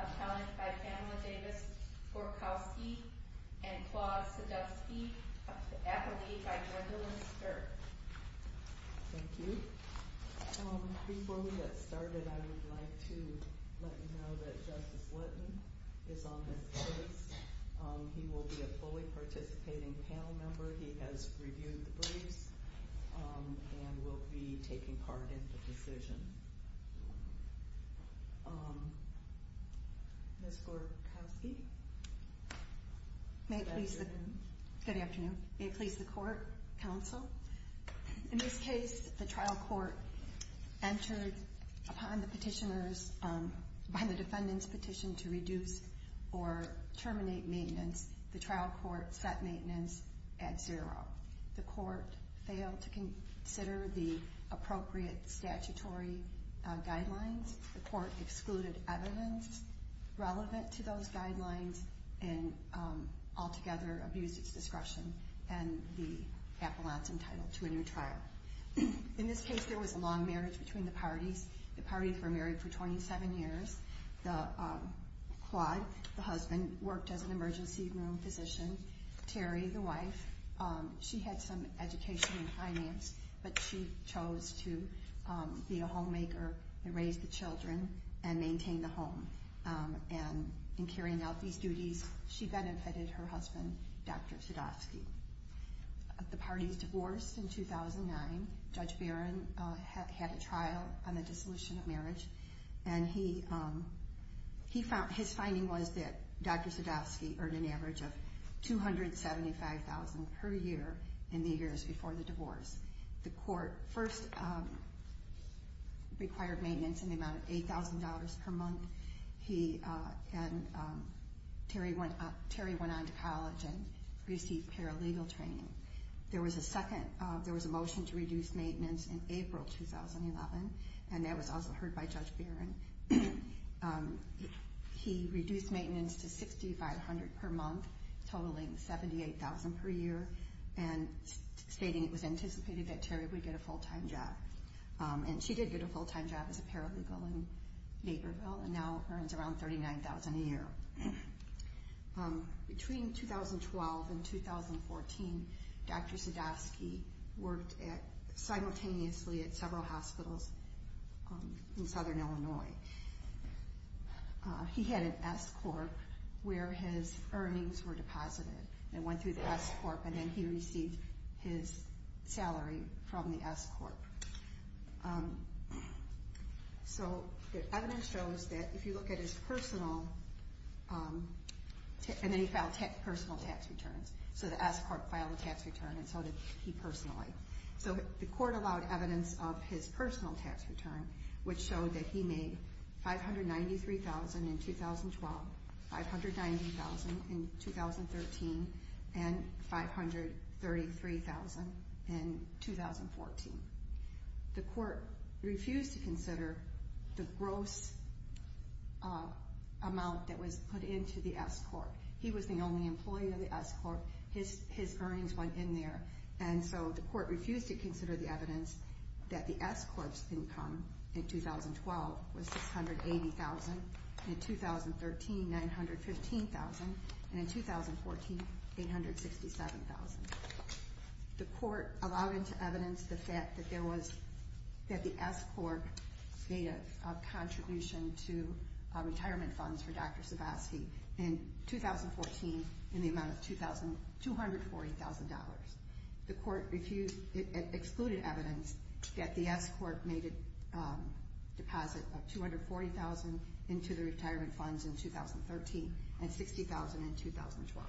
Appellant by Pamela Davis Forkowski and Claude Sadovsky, Appellee by Jordalyn Sturt. Thank you. Before we get started, I would like to let you know that Justice Lutton is on this case. He will be a fully participating panel member. He has reviewed the briefs and will be taking part in the decision. Ms. Forkowski? Good afternoon. May it please the Court, Counsel. In this case, the trial court entered upon the petitioners by the defendant's petition to reduce or terminate maintenance. The trial court set maintenance at zero. The court failed to consider the appropriate statutory guidelines. The court excluded evidence relevant to those guidelines and altogether abused its discretion and the appellant's entitled to a new trial. In this case, there was a long marriage between the parties. The parties were married for 27 years. Claude, the husband, worked as an emergency room physician. Terry, the wife, she had some education in finance, but she chose to be a homemaker and raise the children and maintain the home. In carrying out these duties, she benefited her husband, Dr. Sadovsky. The parties divorced in 2009. Judge Barron had a trial on the dissolution of marriage. His finding was that Dr. Sadovsky earned an average of $275,000 per year in the years before the divorce. The court first required maintenance in the amount of $8,000 per month. Terry went on to college and received paralegal training. There was a motion to reduce maintenance in April 2011, and that was also heard by Judge Barron. He reduced maintenance to $6,500 per month, totaling $78,000 per year, stating it was anticipated that Terry would get a full-time job. She did get a full-time job as a paralegal in Naperville and now earns around $39,000 a year. Between 2012 and 2014, Dr. Sadovsky worked simultaneously at several hospitals in southern Illinois. He had an S-Corp where his earnings were deposited and went through the S-Corp, and then he received his salary from the S-Corp. So the evidence shows that if you look at his personal, and then he filed personal tax returns. So the S-Corp filed a tax return, and so did he personally. So the court allowed evidence of his personal tax return, which showed that he made $593,000 in 2012, $590,000 in 2013, and $533,000 in 2014. The court refused to consider the gross amount that was put into the S-Corp. He was the only employee of the S-Corp. His earnings went in there. And so the court refused to consider the evidence that the S-Corp's income in 2012 was $680,000, and in 2013, $915,000, and in 2014, $867,000. The court allowed into evidence the fact that the S-Corp made a contribution to retirement funds for Dr. Sadovsky. In 2014, in the amount of $240,000. The court excluded evidence that the S-Corp made a deposit of $240,000 into the retirement funds in 2013, and $60,000 in 2012.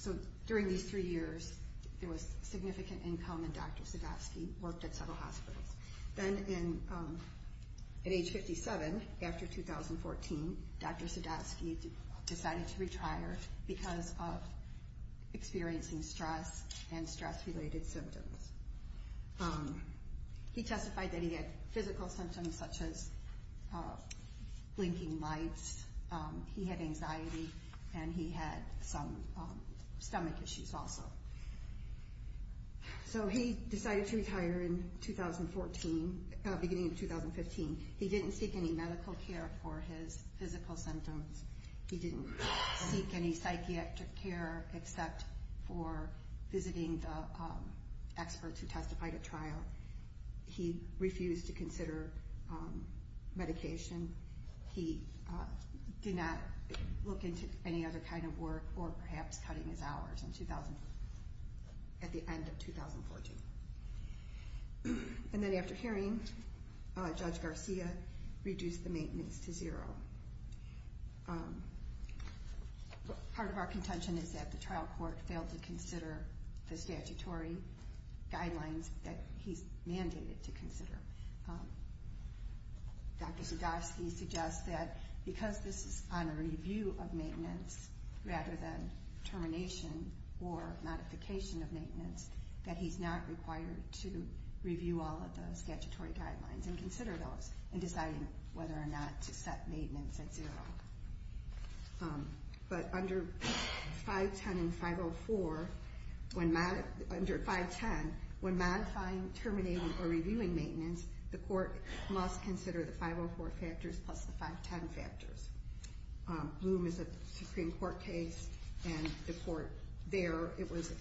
So during these three years, there was significant income in Dr. Sadovsky, worked at several hospitals. Then at age 57, after 2014, Dr. Sadovsky decided to retire because of experiencing stress and stress-related symptoms. He testified that he had physical symptoms such as blinking lights, he had anxiety, and he had some stomach issues also. So he decided to retire in 2014, beginning of 2015. He didn't seek any medical care for his physical symptoms. He didn't seek any psychiatric care except for visiting the experts who testified at trial. He refused to consider medication. He did not look into any other kind of work or perhaps cutting his hours at the end of 2014. And then after hearing, Judge Garcia reduced the maintenance to zero. Part of our contention is that the trial court failed to consider the statutory guidelines that he's mandated to consider. Dr. Sadovsky suggests that because this is on a review of maintenance rather than termination or modification of maintenance, that he's not required to review all of the statutory guidelines and consider those in deciding whether or not to set maintenance at zero. But under 510 and 504, under 510, when modifying, terminating, or reviewing maintenance, the court must consider the 504 factors plus the 510 factors. Bloom is a Supreme Court case, and the court there, it was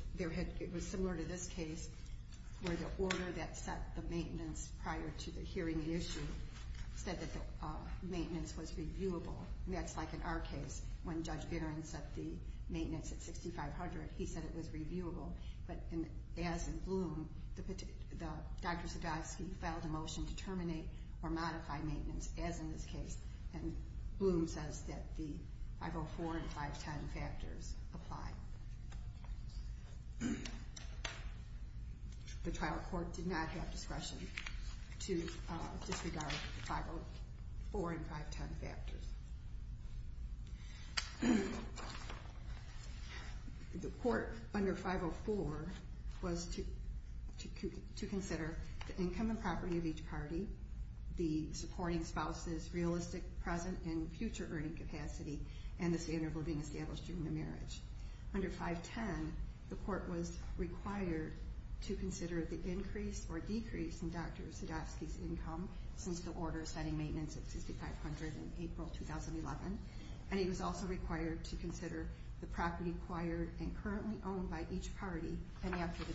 similar to this case, where the order that set the maintenance prior to the hearing issue said that the maintenance was reviewable. And that's like in our case, when Judge Bitteren set the maintenance at 6,500, he said it was reviewable. But as in Bloom, Dr. Sadovsky filed a motion to terminate or modify maintenance, as in this case. And Bloom says that the 504 and 510 factors apply. The trial court did not have discretion to disregard the 504 and 510 factors. The court under 504 was to consider the income and property of each party, the supporting spouse's realistic present and future earning capacity, and the standard of living established during the marriage. Under 510, the court was required to consider the increase or decrease in Dr. Sadovsky's income since the order setting maintenance at 6,500 in April 2011. And he was also required to consider the property acquired and currently owned by each party, and after the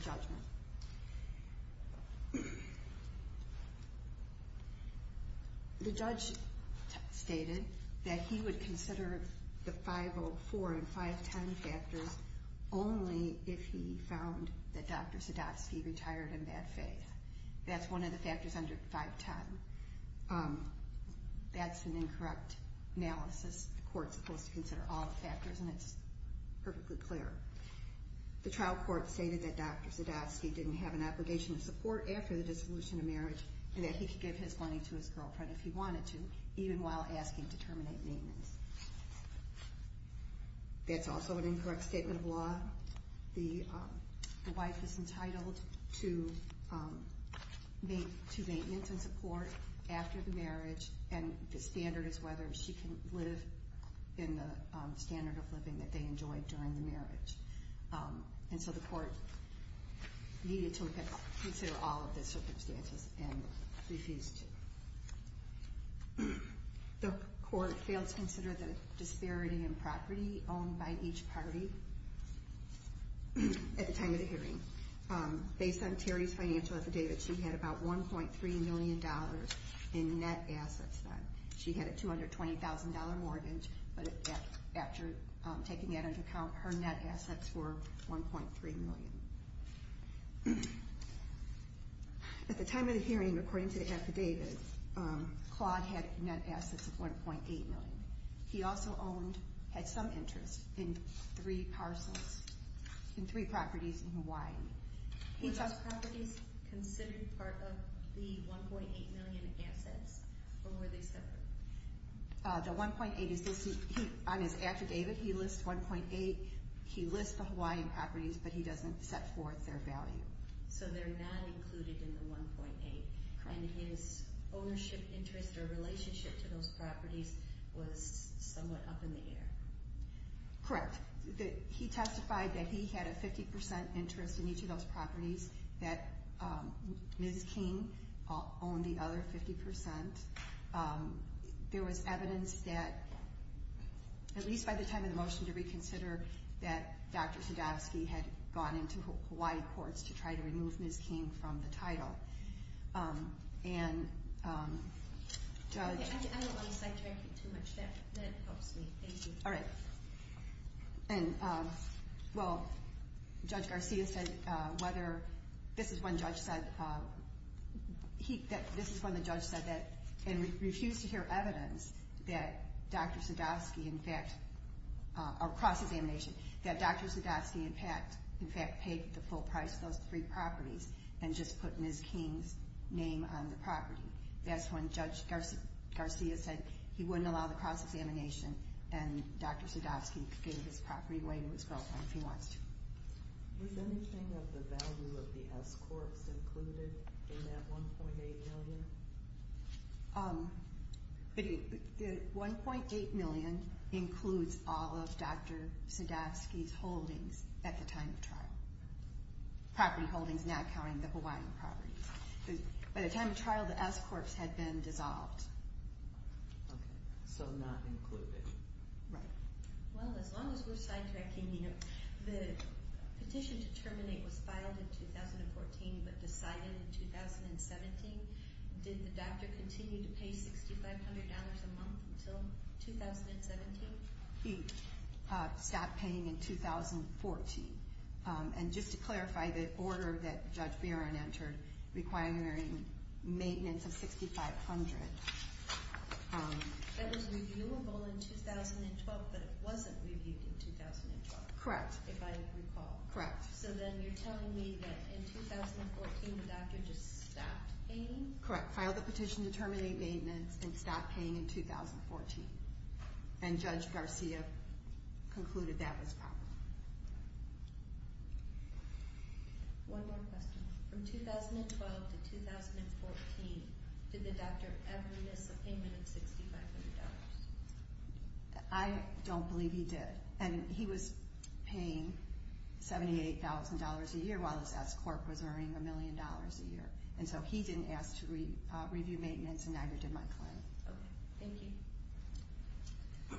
judgment. The judge stated that he would consider the 504 and 510 factors only if he found that Dr. Sadovsky retired in bad faith. That's one of the factors under 510. That's an incorrect analysis. The court's supposed to consider all the factors, and it's perfectly clear. The trial court stated that Dr. Sadovsky didn't have an obligation to support after the dissolution of marriage, and that he could give his money to his girlfriend if he wanted to, even while asking to terminate maintenance. That's also an incorrect statement of law. The wife is entitled to maintenance and support after the marriage, and the standard is whether she can live in the standard of living that they enjoyed during the marriage. And so the court needed to consider all of the circumstances and refused to. The court failed to consider the disparity in property owned by each party at the time of the hearing. Based on Terry's financial affidavit, she had about $1.3 million in net assets. She had a $220,000 mortgage, but after taking that into account, her net assets were $1.3 million. At the time of the hearing, according to the affidavit, Claude had net assets of $1.8 million. He also had some interest in three properties in Hawaii. Were those properties considered part of the $1.8 million assets, or were they separate? On his affidavit, he lists the Hawaiian properties, but he doesn't set forth their value. So they're not included in the $1.8 million. And his ownership interest or relationship to those properties was somewhat up in the air. Correct. He testified that he had a 50% interest in each of those properties, that Ms. King owned the other 50%. There was evidence that, at least by the time of the motion to reconsider, that Dr. Sadowsky had gone into Hawaii courts to try to remove Ms. King from the title. I don't want to sidetrack you too much. That helps me. Thank you. All right. Judge Garcia said, this is when the judge refused to hear evidence that Dr. Sadowsky, across examination, that Dr. Sadowsky, in fact, paid the full price for those three properties and just put Ms. King's name on the property. That's when Judge Garcia said he wouldn't allow the cross-examination and Dr. Sadowsky could give his property away to his girlfriend if he wants to. Was anything of the value of the S-courts included in that $1.8 million? $1.8 million includes all of Dr. Sadowsky's holdings at the time of trial. Property holdings now counting the Hawaiian property. By the time of trial, the S-courts had been dissolved. Okay. So not included. Right. Well, as long as we're sidetracking, you know, the petition to terminate was filed in 2014 but decided in 2017. Did the doctor continue to pay $6,500 a month until 2017? He stopped paying in 2014. And just to clarify, the order that Judge Barron entered requiring maintenance of $6,500... That was reviewable in 2012 but it wasn't reviewed in 2012. Correct. If I recall. Correct. So then you're telling me that in 2014 the doctor just stopped paying? Correct. Filed the petition to terminate maintenance and stopped paying in 2014. And Judge Garcia concluded that was proper. One more question. From 2012 to 2014, did the doctor ever miss a payment of $6,500? I don't believe he did. And he was paying $78,000 a year while his S-court was earning $1 million a year. And so he didn't ask to review maintenance and neither did my client. Okay. Thank you.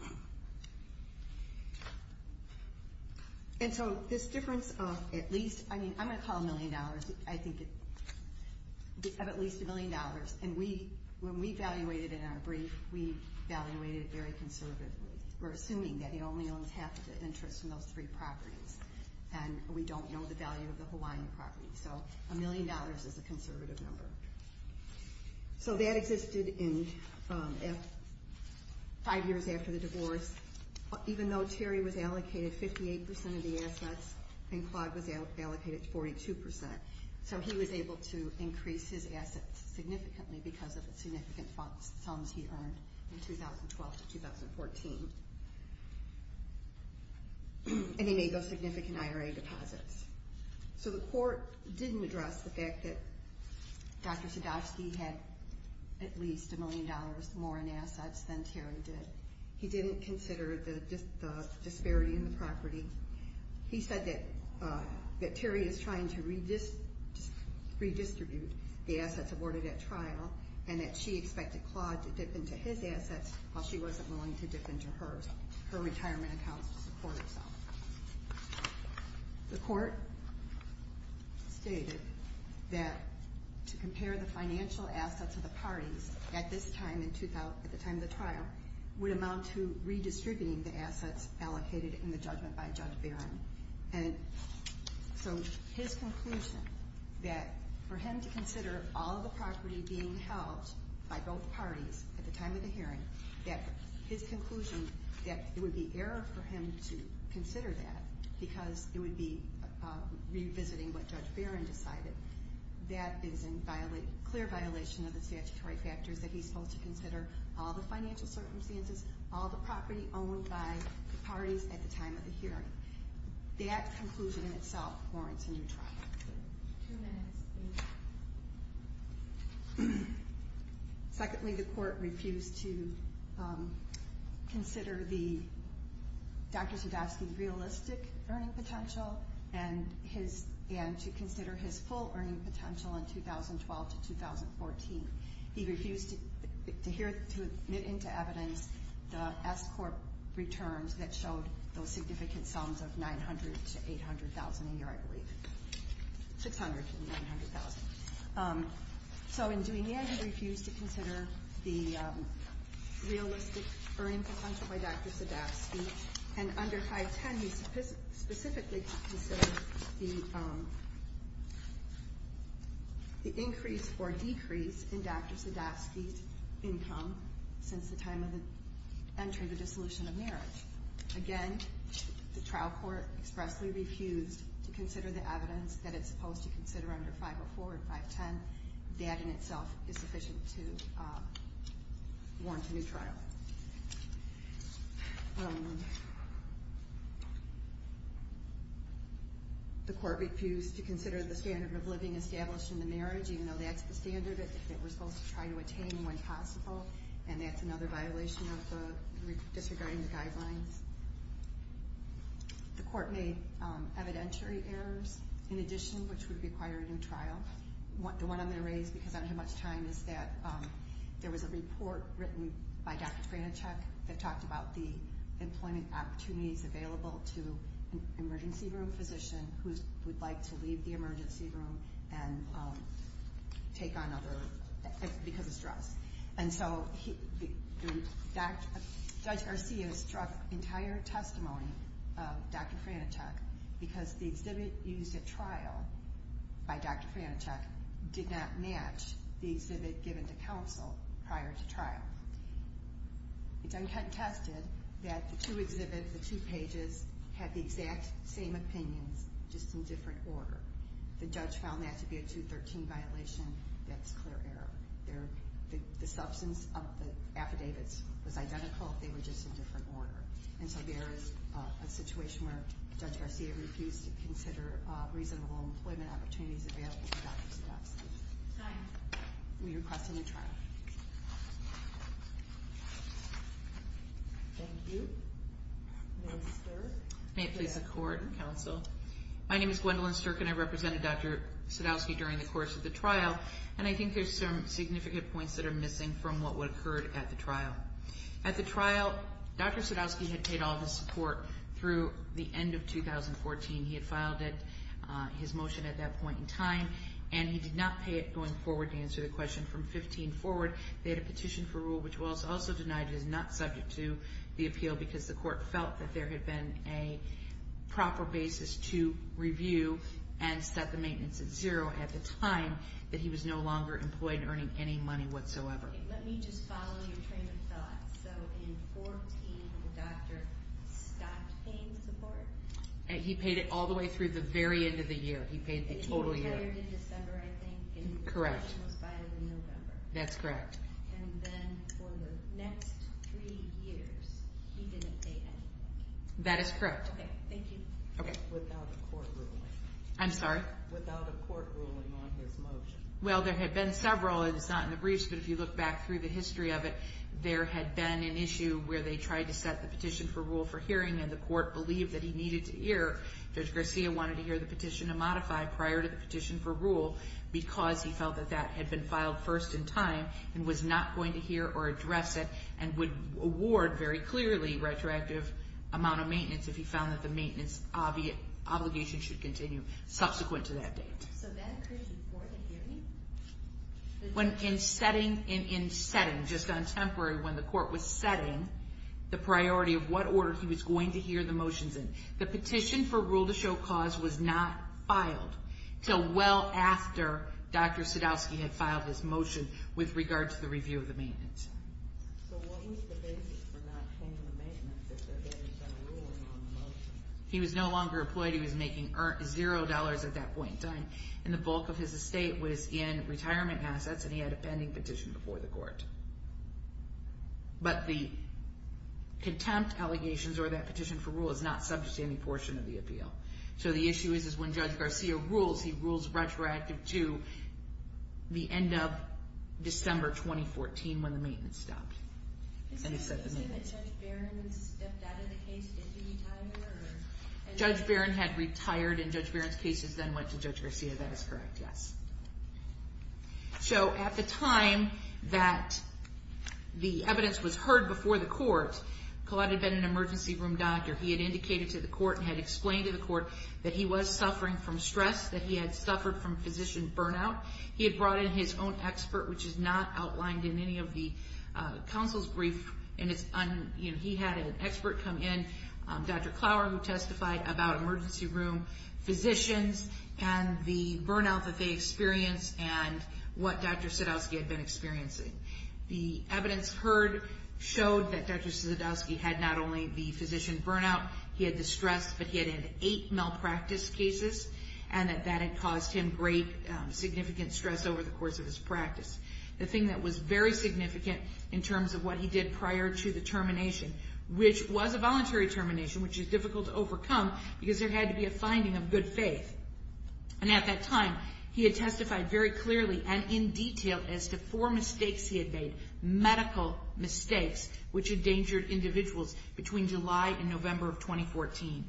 And so this difference of at least... I mean, I'm going to call it $1 million. I think of at least $1 million. And when we evaluated in our brief, we evaluated very conservatively. We're assuming that he only owns half of the interest in those three properties. And we don't know the value of the Hawaiian property. So $1 million is a conservative number. So that existed five years after the divorce. Even though Terry was allocated 58% of the assets and Claude was allocated 42%. So he was able to increase his assets significantly because of the significant sums he earned in 2012 to 2014. And he made those significant IRA deposits. So the court didn't address the fact that Dr. Sadowski had at least $1 million more in assets than Terry did. He didn't consider the disparity in the property. He said that Terry is trying to redistribute the assets awarded at trial and that she expected Claude to dip into his assets while she wasn't willing to dip into her retirement accounts to support herself. The court stated that to compare the financial assets of the parties at this time, at the time of the trial, would amount to redistributing the assets allocated in the judgment by Judge Barron. And so his conclusion that for him to consider all the property being held by both parties at the time of the hearing, that his conclusion that it would be error for him to consider that because it would be revisiting what Judge Barron decided, that is in clear violation of the statutory factors that he's supposed to consider all the financial circumstances, all the property owned by the parties at the time of the hearing. That conclusion in itself warrants a new trial. Two minutes, please. Secondly, the court refused to consider Dr. Sadowski's realistic earning potential and to consider his full earning potential in 2012 to 2014. He refused to admit into evidence the S-Corp returns that showed those significant sums of $900,000 to $800,000 a year, I believe. $600,000 to $900,000. So in doing that, he refused to consider the realistic earning potential by Dr. Sadowski. And under 510, he specifically considered the increase or decrease in Dr. Sadowski's income since the time of the entry of the dissolution of marriage. Again, the trial court expressly refused to consider the evidence that it's supposed to consider under 504 and 510. That in itself is sufficient to warrant a new trial. The court refused to consider the standard of living established in the marriage, even though that's the standard that we're supposed to try to attain when possible, and that's another violation of the, disregarding the guidelines. The court made evidentiary errors, in addition, which would require a new trial. The one I'm going to raise because I don't have much time is that there was a report written by Dr. Pranichek that talked about the employment opportunities available to an emergency room physician who would like to leave the emergency room and take on other, because of stress. And so, Judge Garcia struck entire testimony of Dr. Pranichek because the exhibit used at trial by Dr. Pranichek did not match the exhibit given to counsel prior to trial. It's uncontested that the two exhibits, the two pages, had the exact same opinions, just in different order. The judge found that to be a 213 violation. That's clear error. The substance of the affidavits was identical, they were just in different order. And so there is a situation where Judge Garcia refused to consider reasonable employment opportunities available to Dr. Sadowski. Time. We request a new trial. Thank you. May it please the court and counsel. My name is Gwendolyn Sturk and I represented Dr. Sadowski during the course of the trial, and I think there's some significant points that are missing from what would have occurred at the trial. At the trial, Dr. Sadowski had paid all of his support through the end of 2014. He had filed his motion at that point in time, and he did not pay it going forward to answer the question. From 2015 forward, they had a petition for rule which was also denied. It is not subject to the appeal because the court felt that there had been a proper basis to review and set the maintenance at zero at the time that he was no longer employed and earning any money whatsoever. Let me just follow your train of thought. So in 2014, the doctor stopped paying support? He paid it all the way through the very end of the year. He paid the total year. And he retired in December, I think. Correct. And the petition was filed in November. That's correct. And then for the next three years, he didn't pay anything. That is correct. Okay, thank you. Okay. Without a court ruling. I'm sorry? Without a court ruling on his motion. Well, there had been several, and it's not in the briefs, but if you look back through the history of it, there had been an issue where they tried to set the petition for rule for hearing, and the court believed that he needed to hear. Judge Garcia wanted to hear the petition to modify prior to the petition for rule because he felt that that had been filed first in time and was not going to hear or address it and would award very clearly retroactive amount of maintenance if he found that the maintenance obligation should continue subsequent to that date. So that occurred before the hearing? In setting, just on temporary, when the court was setting the priority of what order he was going to hear the motions in. The petition for rule to show cause was not filed until well after Dr. Sadowski had filed his motion with regard to the review of the maintenance. So what was the basis for not paying the maintenance if there had been some ruling on the motion? He was no longer employed. He was making zero dollars at that point in time. And the bulk of his estate was in retirement assets, and he had a pending petition before the court. But the contempt allegations or that petition for rule is not subject to any portion of the appeal. So the issue is when Judge Garcia rules, he rules retroactive to the end of December 2014 when the maintenance stopped. Is it the same that Judge Barron stepped out of the case into retirement? Judge Barron had retired, and Judge Barron's cases then went to Judge Garcia. That is correct, yes. So at the time that the evidence was heard before the court, Collette had been an emergency room doctor. He had indicated to the court and had explained to the court that he was suffering from stress, that he had suffered from physician burnout. He had brought in his own expert, which is not outlined in any of the counsel's brief. He had an expert come in, Dr. Clower, who testified about emergency room physicians and the burnout that they experienced and what Dr. Sadowski had been experiencing. The evidence heard showed that Dr. Sadowski had not only the physician burnout, he had the stress, but he had had eight malpractice cases, and that that had caused him great significant stress over the course of his practice. The thing that was very significant in terms of what he did prior to the termination, which was a voluntary termination, which is difficult to overcome because there had to be a finding of good faith. And at that time, he had testified very clearly and in detail as to four mistakes he had made, medical mistakes, which endangered individuals between July and November of 2014.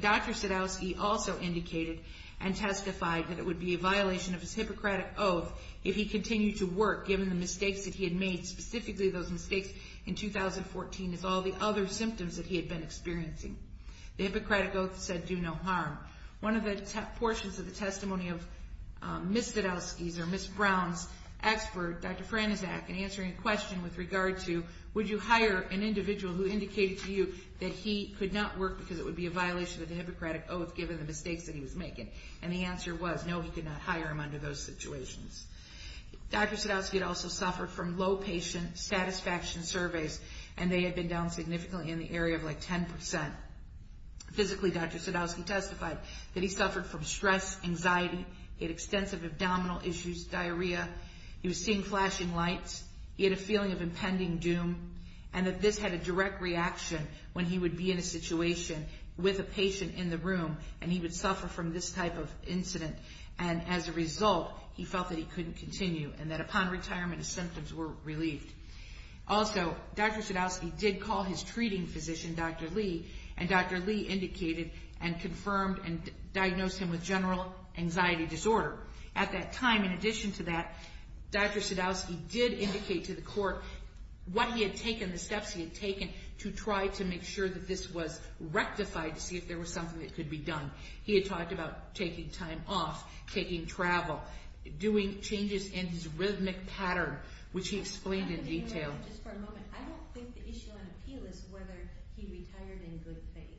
Dr. Sadowski also indicated and testified that it would be a violation of his Hippocratic Oath if he continued to work, given the mistakes that he had made, specifically those mistakes in 2014 as all the other symptoms that he had been experiencing. The Hippocratic Oath said do no harm. One of the portions of the testimony of Ms. Sadowski's or Ms. Brown's expert, Dr. Franczak, in answering a question with regard to would you hire an individual who indicated to you that he could not work because it would be a violation of the Hippocratic Oath given the mistakes that he was making, and the answer was no, he could not hire him under those situations. Dr. Sadowski had also suffered from low patient satisfaction surveys, and they had been down significantly in the area of like 10%. Physically, Dr. Sadowski testified that he suffered from stress, anxiety, he had extensive abdominal issues, diarrhea, he was seeing flashing lights, he had a feeling of impending doom, and that this had a direct reaction when he would be in a situation with a patient in the room, and he would suffer from this type of incident, and as a result, he felt that he couldn't continue and that upon retirement, his symptoms were relieved. Also, Dr. Sadowski did call his treating physician, Dr. Lee, and Dr. Lee indicated and confirmed and diagnosed him with general anxiety disorder. At that time, in addition to that, Dr. Sadowski did indicate to the court what he had taken, the steps he had taken to try to make sure that this was rectified to see if there was something that could be done. He had talked about taking time off, taking travel, doing changes in his rhythmic pattern, which he explained in detail. Just for a moment, I don't think the issue on appeal is whether he retired in good faith.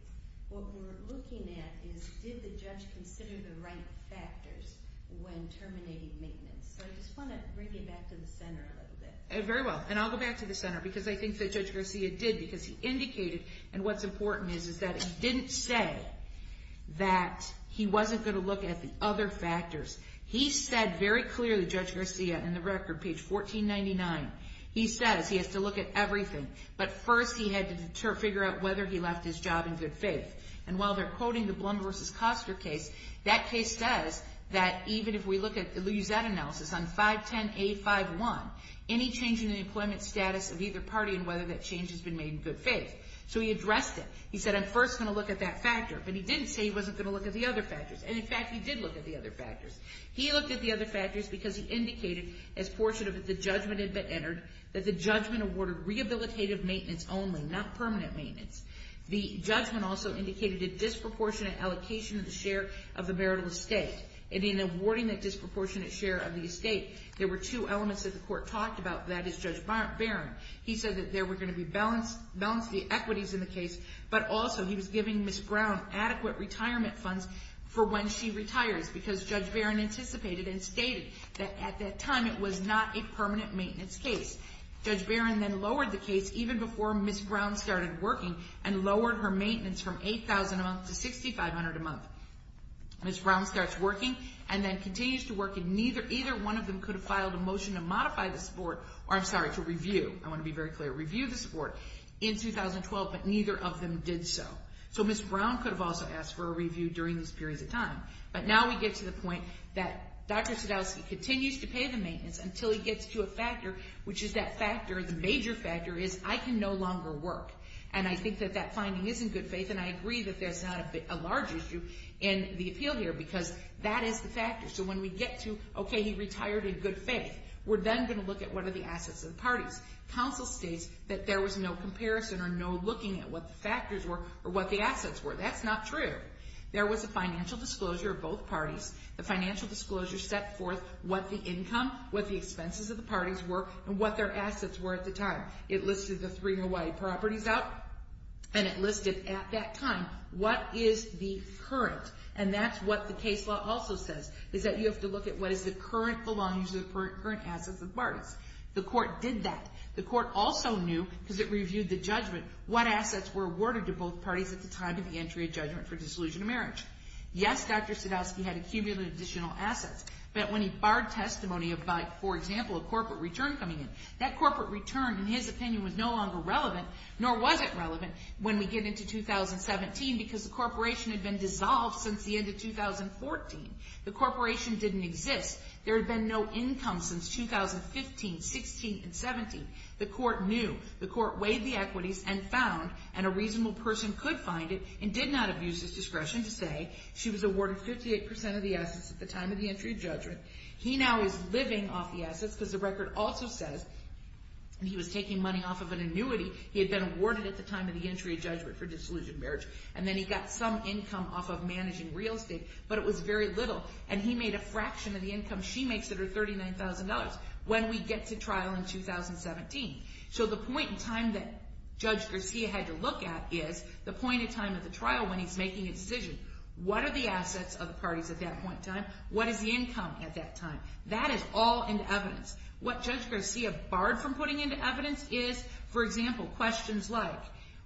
What we're looking at is did the judge consider the right factors when terminating maintenance. So I just want to bring you back to the center a little bit. Very well, and I'll go back to the center because I think that Judge Garcia did because he indicated, and what's important is that he didn't say that he wasn't going to look at the other factors. He said very clearly, Judge Garcia, in the record, page 1499, he says he has to look at everything, but first he had to figure out whether he left his job in good faith. And while they're quoting the Blum v. Koster case, that case says that even if we use that analysis on 510A51, any change in the employment status of either party and whether that change has been made in good faith. So he addressed it. He said, I'm first going to look at that factor, but he didn't say he wasn't going to look at the other factors. And, in fact, he did look at the other factors. He looked at the other factors because he indicated, as portion of the judgment had been entered, that the judgment awarded rehabilitative maintenance only, not permanent maintenance. The judgment also indicated a disproportionate allocation of the share of the marital estate. And in awarding that disproportionate share of the estate, there were two elements that the court talked about, that is Judge Barron. He said that there were going to be balance of the equities in the case, but also he was giving Ms. Brown adequate retirement funds for when she retires because Judge Barron anticipated and stated that at that time it was not a permanent maintenance case. Judge Barron then lowered the case even before Ms. Brown started working and lowered her maintenance from $8,000 a month to $6,500 a month. Ms. Brown starts working and then continues to work, and neither one of them could have filed a motion to review the support in 2012, but neither of them did so. So Ms. Brown could have also asked for a review during this period of time. But now we get to the point that Dr. Sadowski continues to pay the maintenance until he gets to a factor, which is that factor, the major factor, is I can no longer work. And I think that that finding is in good faith, and I agree that there's not a large issue in the appeal here because that is the factor. So when we get to, okay, he retired in good faith, we're then going to look at what are the assets of the parties. Counsel states that there was no comparison or no looking at what the factors were or what the assets were. That's not true. There was a financial disclosure of both parties. The financial disclosure set forth what the income, what the expenses of the parties were, and what their assets were at the time. It listed the three Hawaii properties out, and it listed at that time what is the current, and that's what the case law also says, is that you have to look at what is the current belongings of the current assets of the parties. The court did that. The court also knew, because it reviewed the judgment, what assets were awarded to both parties at the time of the entry of judgment for dissolution of marriage. Yes, Dr. Sadowski had accumulated additional assets, but when he barred testimony of, for example, a corporate return coming in, that corporate return, in his opinion, was no longer relevant, nor was it relevant when we get into 2017 because the corporation had been dissolved since the end of 2014. The corporation didn't exist. There had been no income since 2015, 16, and 17. The court knew. The court weighed the equities and found, and a reasonable person could find it and did not have used his discretion to say, she was awarded 58% of the assets at the time of the entry of judgment. He now is living off the assets because the record also says, and he was taking money off of an annuity. He had been awarded at the time of the entry of judgment for dissolution of marriage, and then he got some income off of managing real estate, but it was very little, and he made a fraction of the income she makes that are $39,000 when we get to trial in 2017. So the point in time that Judge Garcia had to look at is the point in time of the trial when he's making a decision. What are the assets of the parties at that point in time? What is the income at that time? That is all in evidence. What Judge Garcia barred from putting into evidence is, for example, questions like,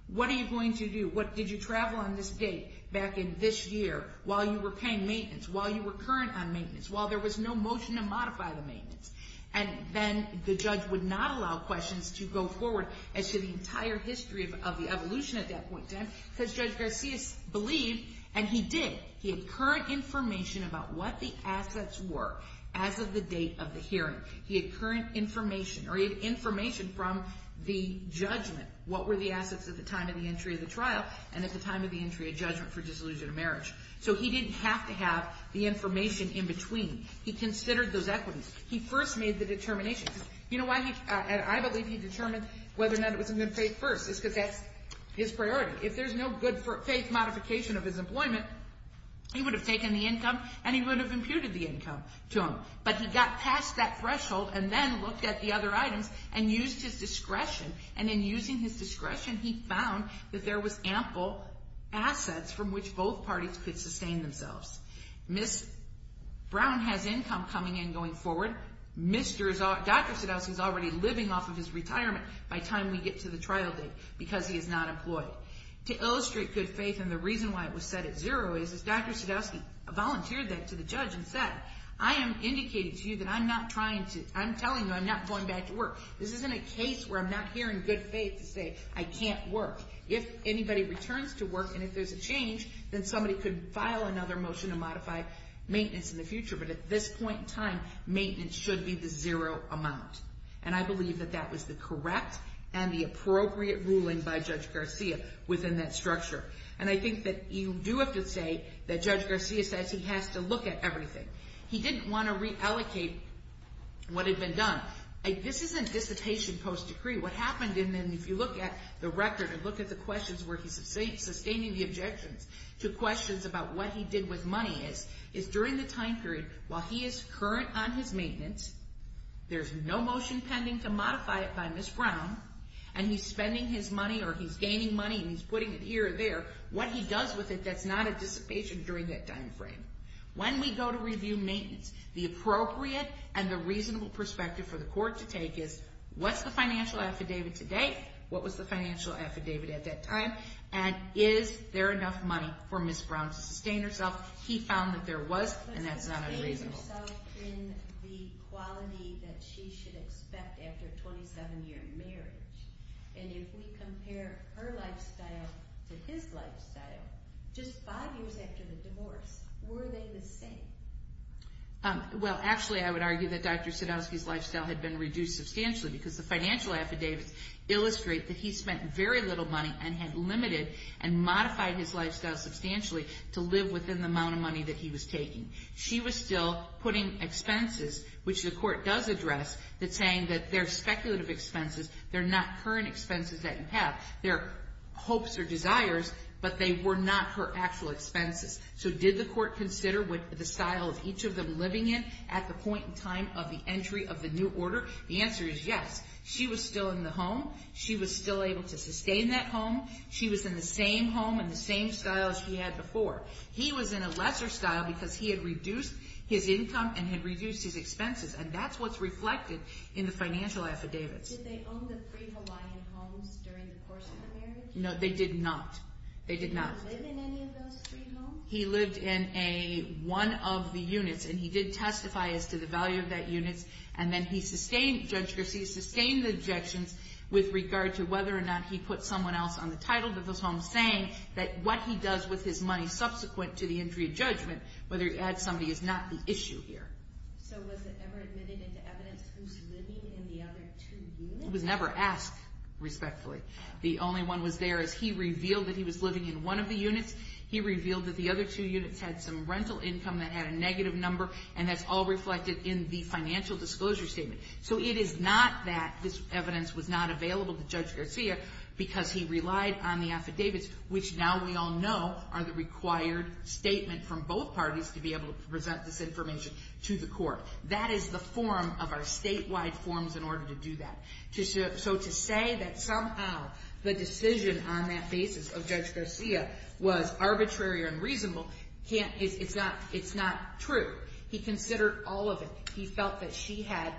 what are you going to do? Did you travel on this date back in this year while you were paying maintenance, while you were current on maintenance, while there was no motion to modify the maintenance? And then the judge would not allow questions to go forward as to the entire history of the evolution at that point in time because Judge Garcia believed, and he did, he had current information about what the assets were as of the date of the hearing. He had current information, or he had information from the judgment. What were the assets at the time of the entry of the trial and at the time of the entry of judgment for disillusion of marriage? So he didn't have to have the information in between. He considered those equities. He first made the determination. I believe he determined whether or not it was a good faith first because that's his priority. If there's no good faith modification of his employment, he would have taken the income and he would have imputed the income to him. But he got past that threshold and then looked at the other items and used his discretion, and in using his discretion, he found that there was ample assets from which both parties could sustain themselves. Ms. Brown has income coming in going forward. Dr. Sadowski is already living off of his retirement by the time we get to the trial date because he is not employed. To illustrate good faith and the reason why it was set at zero is Dr. Sadowski volunteered that to the judge and said, I am indicating to you that I'm not trying to, I'm telling you I'm not going back to work. This isn't a case where I'm not hearing good faith to say I can't work. If anybody returns to work and if there's a change, then somebody could file another motion to modify maintenance in the future. But at this point in time, maintenance should be the zero amount. And I believe that that was the correct and the appropriate ruling by Judge Garcia within that structure. And I think that you do have to say that Judge Garcia says he has to look at everything. He didn't want to reallocate what had been done. But this isn't dissipation post-decree. What happened, and if you look at the record and look at the questions where he's sustaining the objections to questions about what he did with money, is during the time period while he is current on his maintenance, there's no motion pending to modify it by Ms. Brown, and he's spending his money or he's gaining money and he's putting it here or there, what he does with it that's not a dissipation during that time frame. When we go to review maintenance, the appropriate and the reasonable perspective for the court to take is what's the financial affidavit to date? What was the financial affidavit at that time? And is there enough money for Ms. Brown to sustain herself? He found that there was, and that's not unreasonable. But sustained herself in the quality that she should expect after a 27-year marriage. And if we compare her lifestyle to his lifestyle, just five years after the divorce, were they the same? Well, actually, I would argue that Dr. Sadowski's lifestyle had been reduced substantially because the financial affidavits illustrate that he spent very little money and had limited and modified his lifestyle substantially to live within the amount of money that he was taking. She was still putting expenses, which the court does address, that's saying that they're speculative expenses, they're not current expenses that you have, they're hopes or desires, but they were not her actual expenses. So did the court consider what the style of each of them living in at the point in time of the entry of the new order? The answer is yes. She was still in the home. She was still able to sustain that home. She was in the same home and the same style as he had before. He was in a lesser style because he had reduced his income and had reduced his expenses, and that's what's reflected in the financial affidavits. Did they own the free Hawaiian homes during the course of the marriage? No, they did not. They did not. Did he not live in any of those free homes? He lived in one of the units, and he did testify as to the value of that unit, and then Judge Garcia sustained the objections with regard to whether or not he put someone else on the title of those homes, saying that what he does with his money subsequent to the entry of judgment, whether he had somebody, is not the issue here. So was it ever admitted into evidence who's living in the other two units? It was never asked, respectfully. The only one was there as he revealed that he was living in one of the units. He revealed that the other two units had some rental income that had a negative number, and that's all reflected in the financial disclosure statement. So it is not that this evidence was not available to Judge Garcia because he relied on the affidavits, which now we all know are the required statement from both parties to be able to present this information to the court. That is the form of our statewide forms in order to do that. So to say that somehow the decision on that basis of Judge Garcia was arbitrary or unreasonable, it's not true. He considered all of it. He felt that she had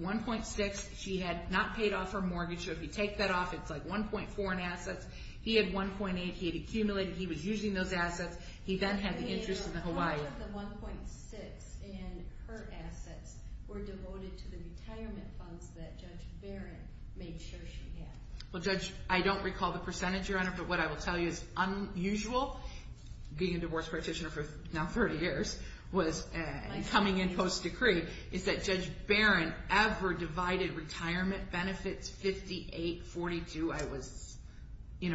1.6. She had not paid off her mortgage, so if you take that off, it's like 1.4 in assets. He had 1.8. He had accumulated. He was using those assets. He then had the interest in the Hawaii. What if the 1.6 in her assets were devoted to the retirement funds that Judge Barron made sure she had? Well, Judge, I don't recall the percentage, Your Honor, but what I will tell you is unusual, being a divorce practitioner for now 30 years, was coming in post-decree, is that Judge Barron ever divided retirement benefits 58-42. The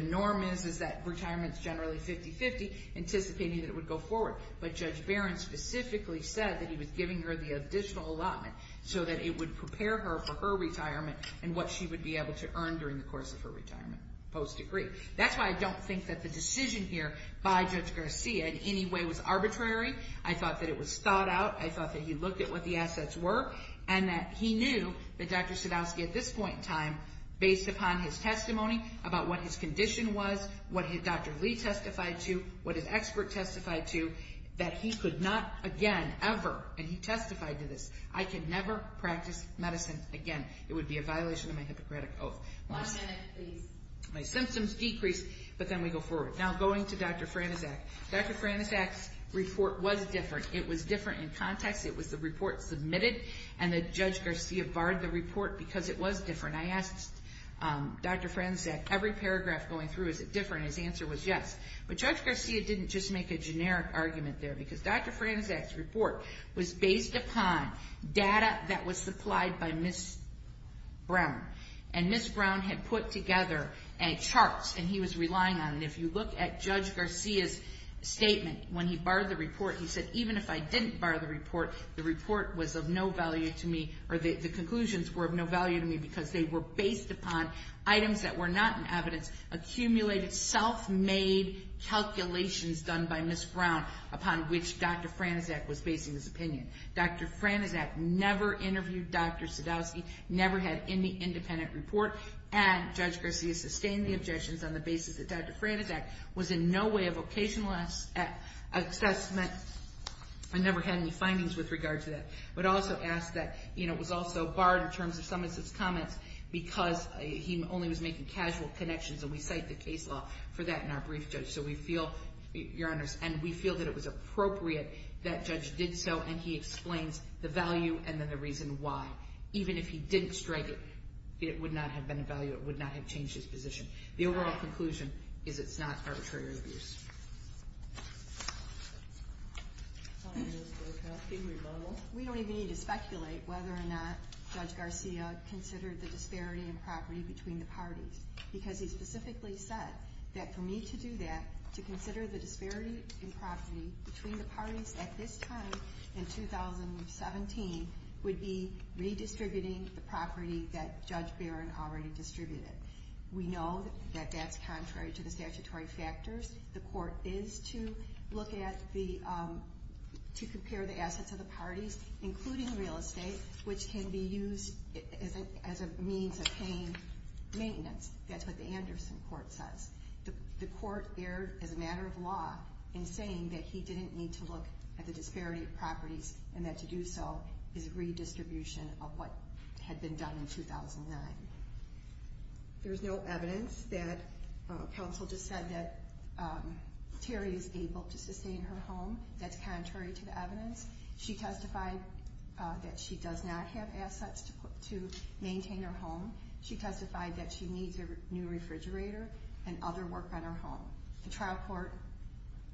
norm is that retirement is generally 50-50, anticipating that it would go forward. But Judge Barron specifically said that he was giving her the additional allotment so that it would prepare her for her retirement and what she would be able to earn during the course of her retirement post-decree. That's why I don't think that the decision here by Judge Garcia in any way was arbitrary. I thought that it was thought out. I thought that he looked at what the assets were and that he knew that Dr. Sadowski at this point in time, based upon his testimony about what his condition was, what Dr. Lee testified to, what his expert testified to, that he could not again ever, and he testified to this, I can never practice medicine again. It would be a violation of my Hippocratic Oath. One minute, please. My symptoms decreased, but then we go forward. Now going to Dr. Franczak. Dr. Franczak's report was different. It was different in context. It was the report submitted and that Judge Garcia barred the report because it was different. I asked Dr. Franczak, every paragraph going through, is it different? His answer was yes. But Judge Garcia didn't just make a generic argument there because Dr. Franczak's report was based upon data that was supplied by Ms. Brown, and Ms. Brown had put together charts and he was relying on them. If you look at Judge Garcia's statement when he barred the report, he said, even if I didn't bar the report, the report was of no value to me or the conclusions were of no value to me because they were based upon items that were not in evidence, accumulated self-made calculations done by Ms. Brown upon which Dr. Franczak was basing his opinion. Dr. Franczak never interviewed Dr. Sadowski, never had any independent report, and Judge Garcia sustained the objections on the basis that Dr. Franczak was in no way a vocational assessment and never had any findings with regard to that. I would also ask that it was also barred in terms of some of his comments because he only was making casual connections, and we cite the case law for that in our brief, Judge, so we feel, Your Honors, and we feel that it was appropriate that Judge did so and he explains the value and then the reason why. Even if he didn't strike it, it would not have been of value. It would not have changed his position. The overall conclusion is it's not arbitrary abuse. We don't even need to speculate whether or not Judge Garcia considered the disparity in property between the parties because he specifically said that for me to do that, to consider the disparity in property between the parties at this time in 2017 would be redistributing the property that Judge Barron already distributed. We know that that's contrary to the statutory factors. The court is to look at the, to compare the assets of the parties, including real estate, which can be used as a means of paying maintenance. That's what the Anderson court says. The court erred as a matter of law in saying that he didn't need to look at the disparity of properties and that to do so is redistribution of what had been done in 2009. There's no evidence that counsel just said that Terry is able to sustain her home. That's contrary to the evidence. She testified that she does not have assets to maintain her home. She testified that she needs a new refrigerator and other work on her home. The trial court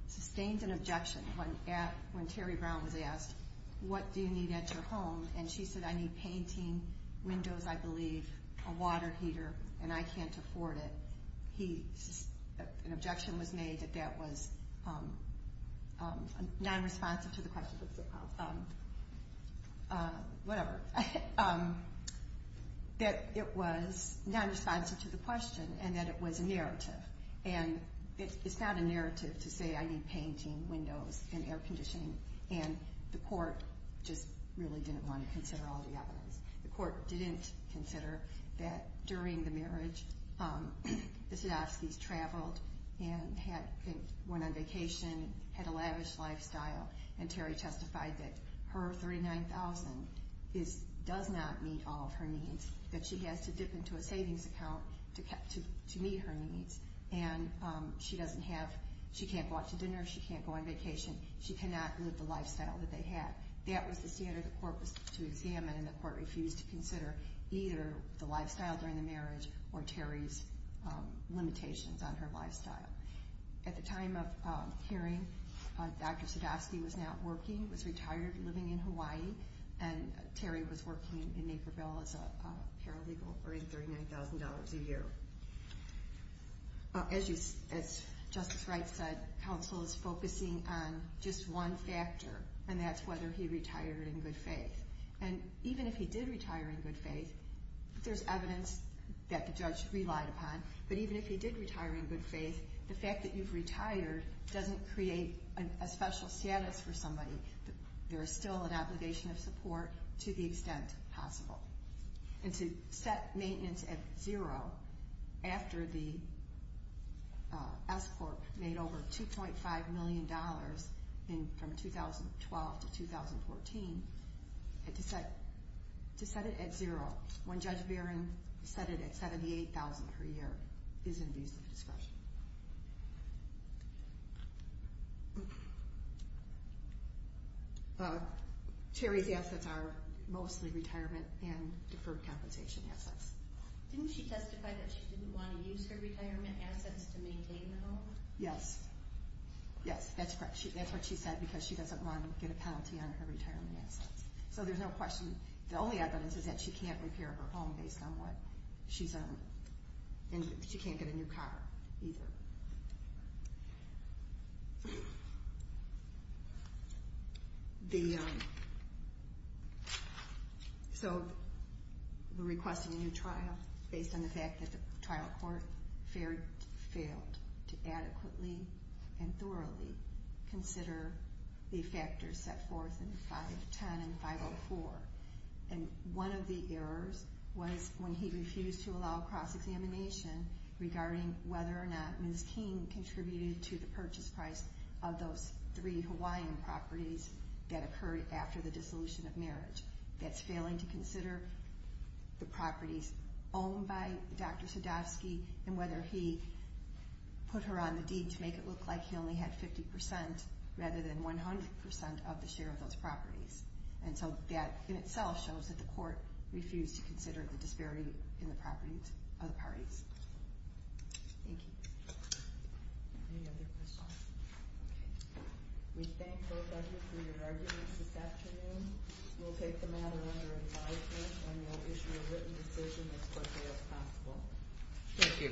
sustained an objection when Terry Brown was asked, what do you need at your home? And she said, I need painting, windows, I believe, a water heater, and I can't afford it. He, an objection was made that that was non-responsive to the question. Whatever. That it was non-responsive to the question and that it was a narrative. And it's not a narrative to say I need painting, windows, and air conditioning. And the court just really didn't want to consider all the evidence. The court didn't consider that during the marriage, the Sadovskys traveled and went on vacation, had a lavish lifestyle, and Terry testified that her $39,000 does not meet all of her needs, that she has to dip into a savings account to meet her needs. And she doesn't have, she can't go out to dinner, she can't go on vacation, she cannot live the lifestyle that they had. That was the standard the court was to examine, and the court refused to consider either the lifestyle during the marriage or Terry's limitations on her lifestyle. At the time of hearing, Dr. Sadovsky was not working, was retired, living in Hawaii, and Terry was working in Naperville as a paralegal earning $39,000 a year. As Justice Wright said, counsel is focusing on just one factor, and that's whether he retired in good faith. And even if he did retire in good faith, there's evidence that the judge relied upon, but even if he did retire in good faith, the fact that you've retired doesn't create a special status for somebody. There is still an obligation of support to the extent possible. And to set maintenance at zero after the S Court made over $2.5 million from 2012 to 2014, to set it at zero when Judge Barron set it at $78,000 per year is in views of discretion. Terry's assets are mostly retirement and deferred compensation assets. Didn't she testify that she didn't want to use her retirement assets to maintain the home? Yes. Yes, that's correct. That's what she said because she doesn't want to get a penalty on her retirement assets. So there's no question. The only evidence is that she can't repair her home based on what she's own, and she can't get a new car either. So the request for a new trial, based on the fact that the trial court failed to adequately and thoroughly consider the factors set forth in 510 and 504, and one of the errors was when he refused to allow cross-examination regarding whether or not Ms. King contributed to the purchase price of those three Hawaiian properties that occurred after the dissolution of marriage. That's failing to consider the properties owned by Dr. Sadowski and whether he put her on the deed to make it look like he only had 50% rather than 100% of the share of those properties. And so that in itself shows that the court refused to consider the disparity in the properties of the parties. Thank you. Any other questions? Okay. We thank both of you for your arguments this afternoon. We'll take the matter under advisement, and we'll issue a written decision as quickly as possible. Thank you.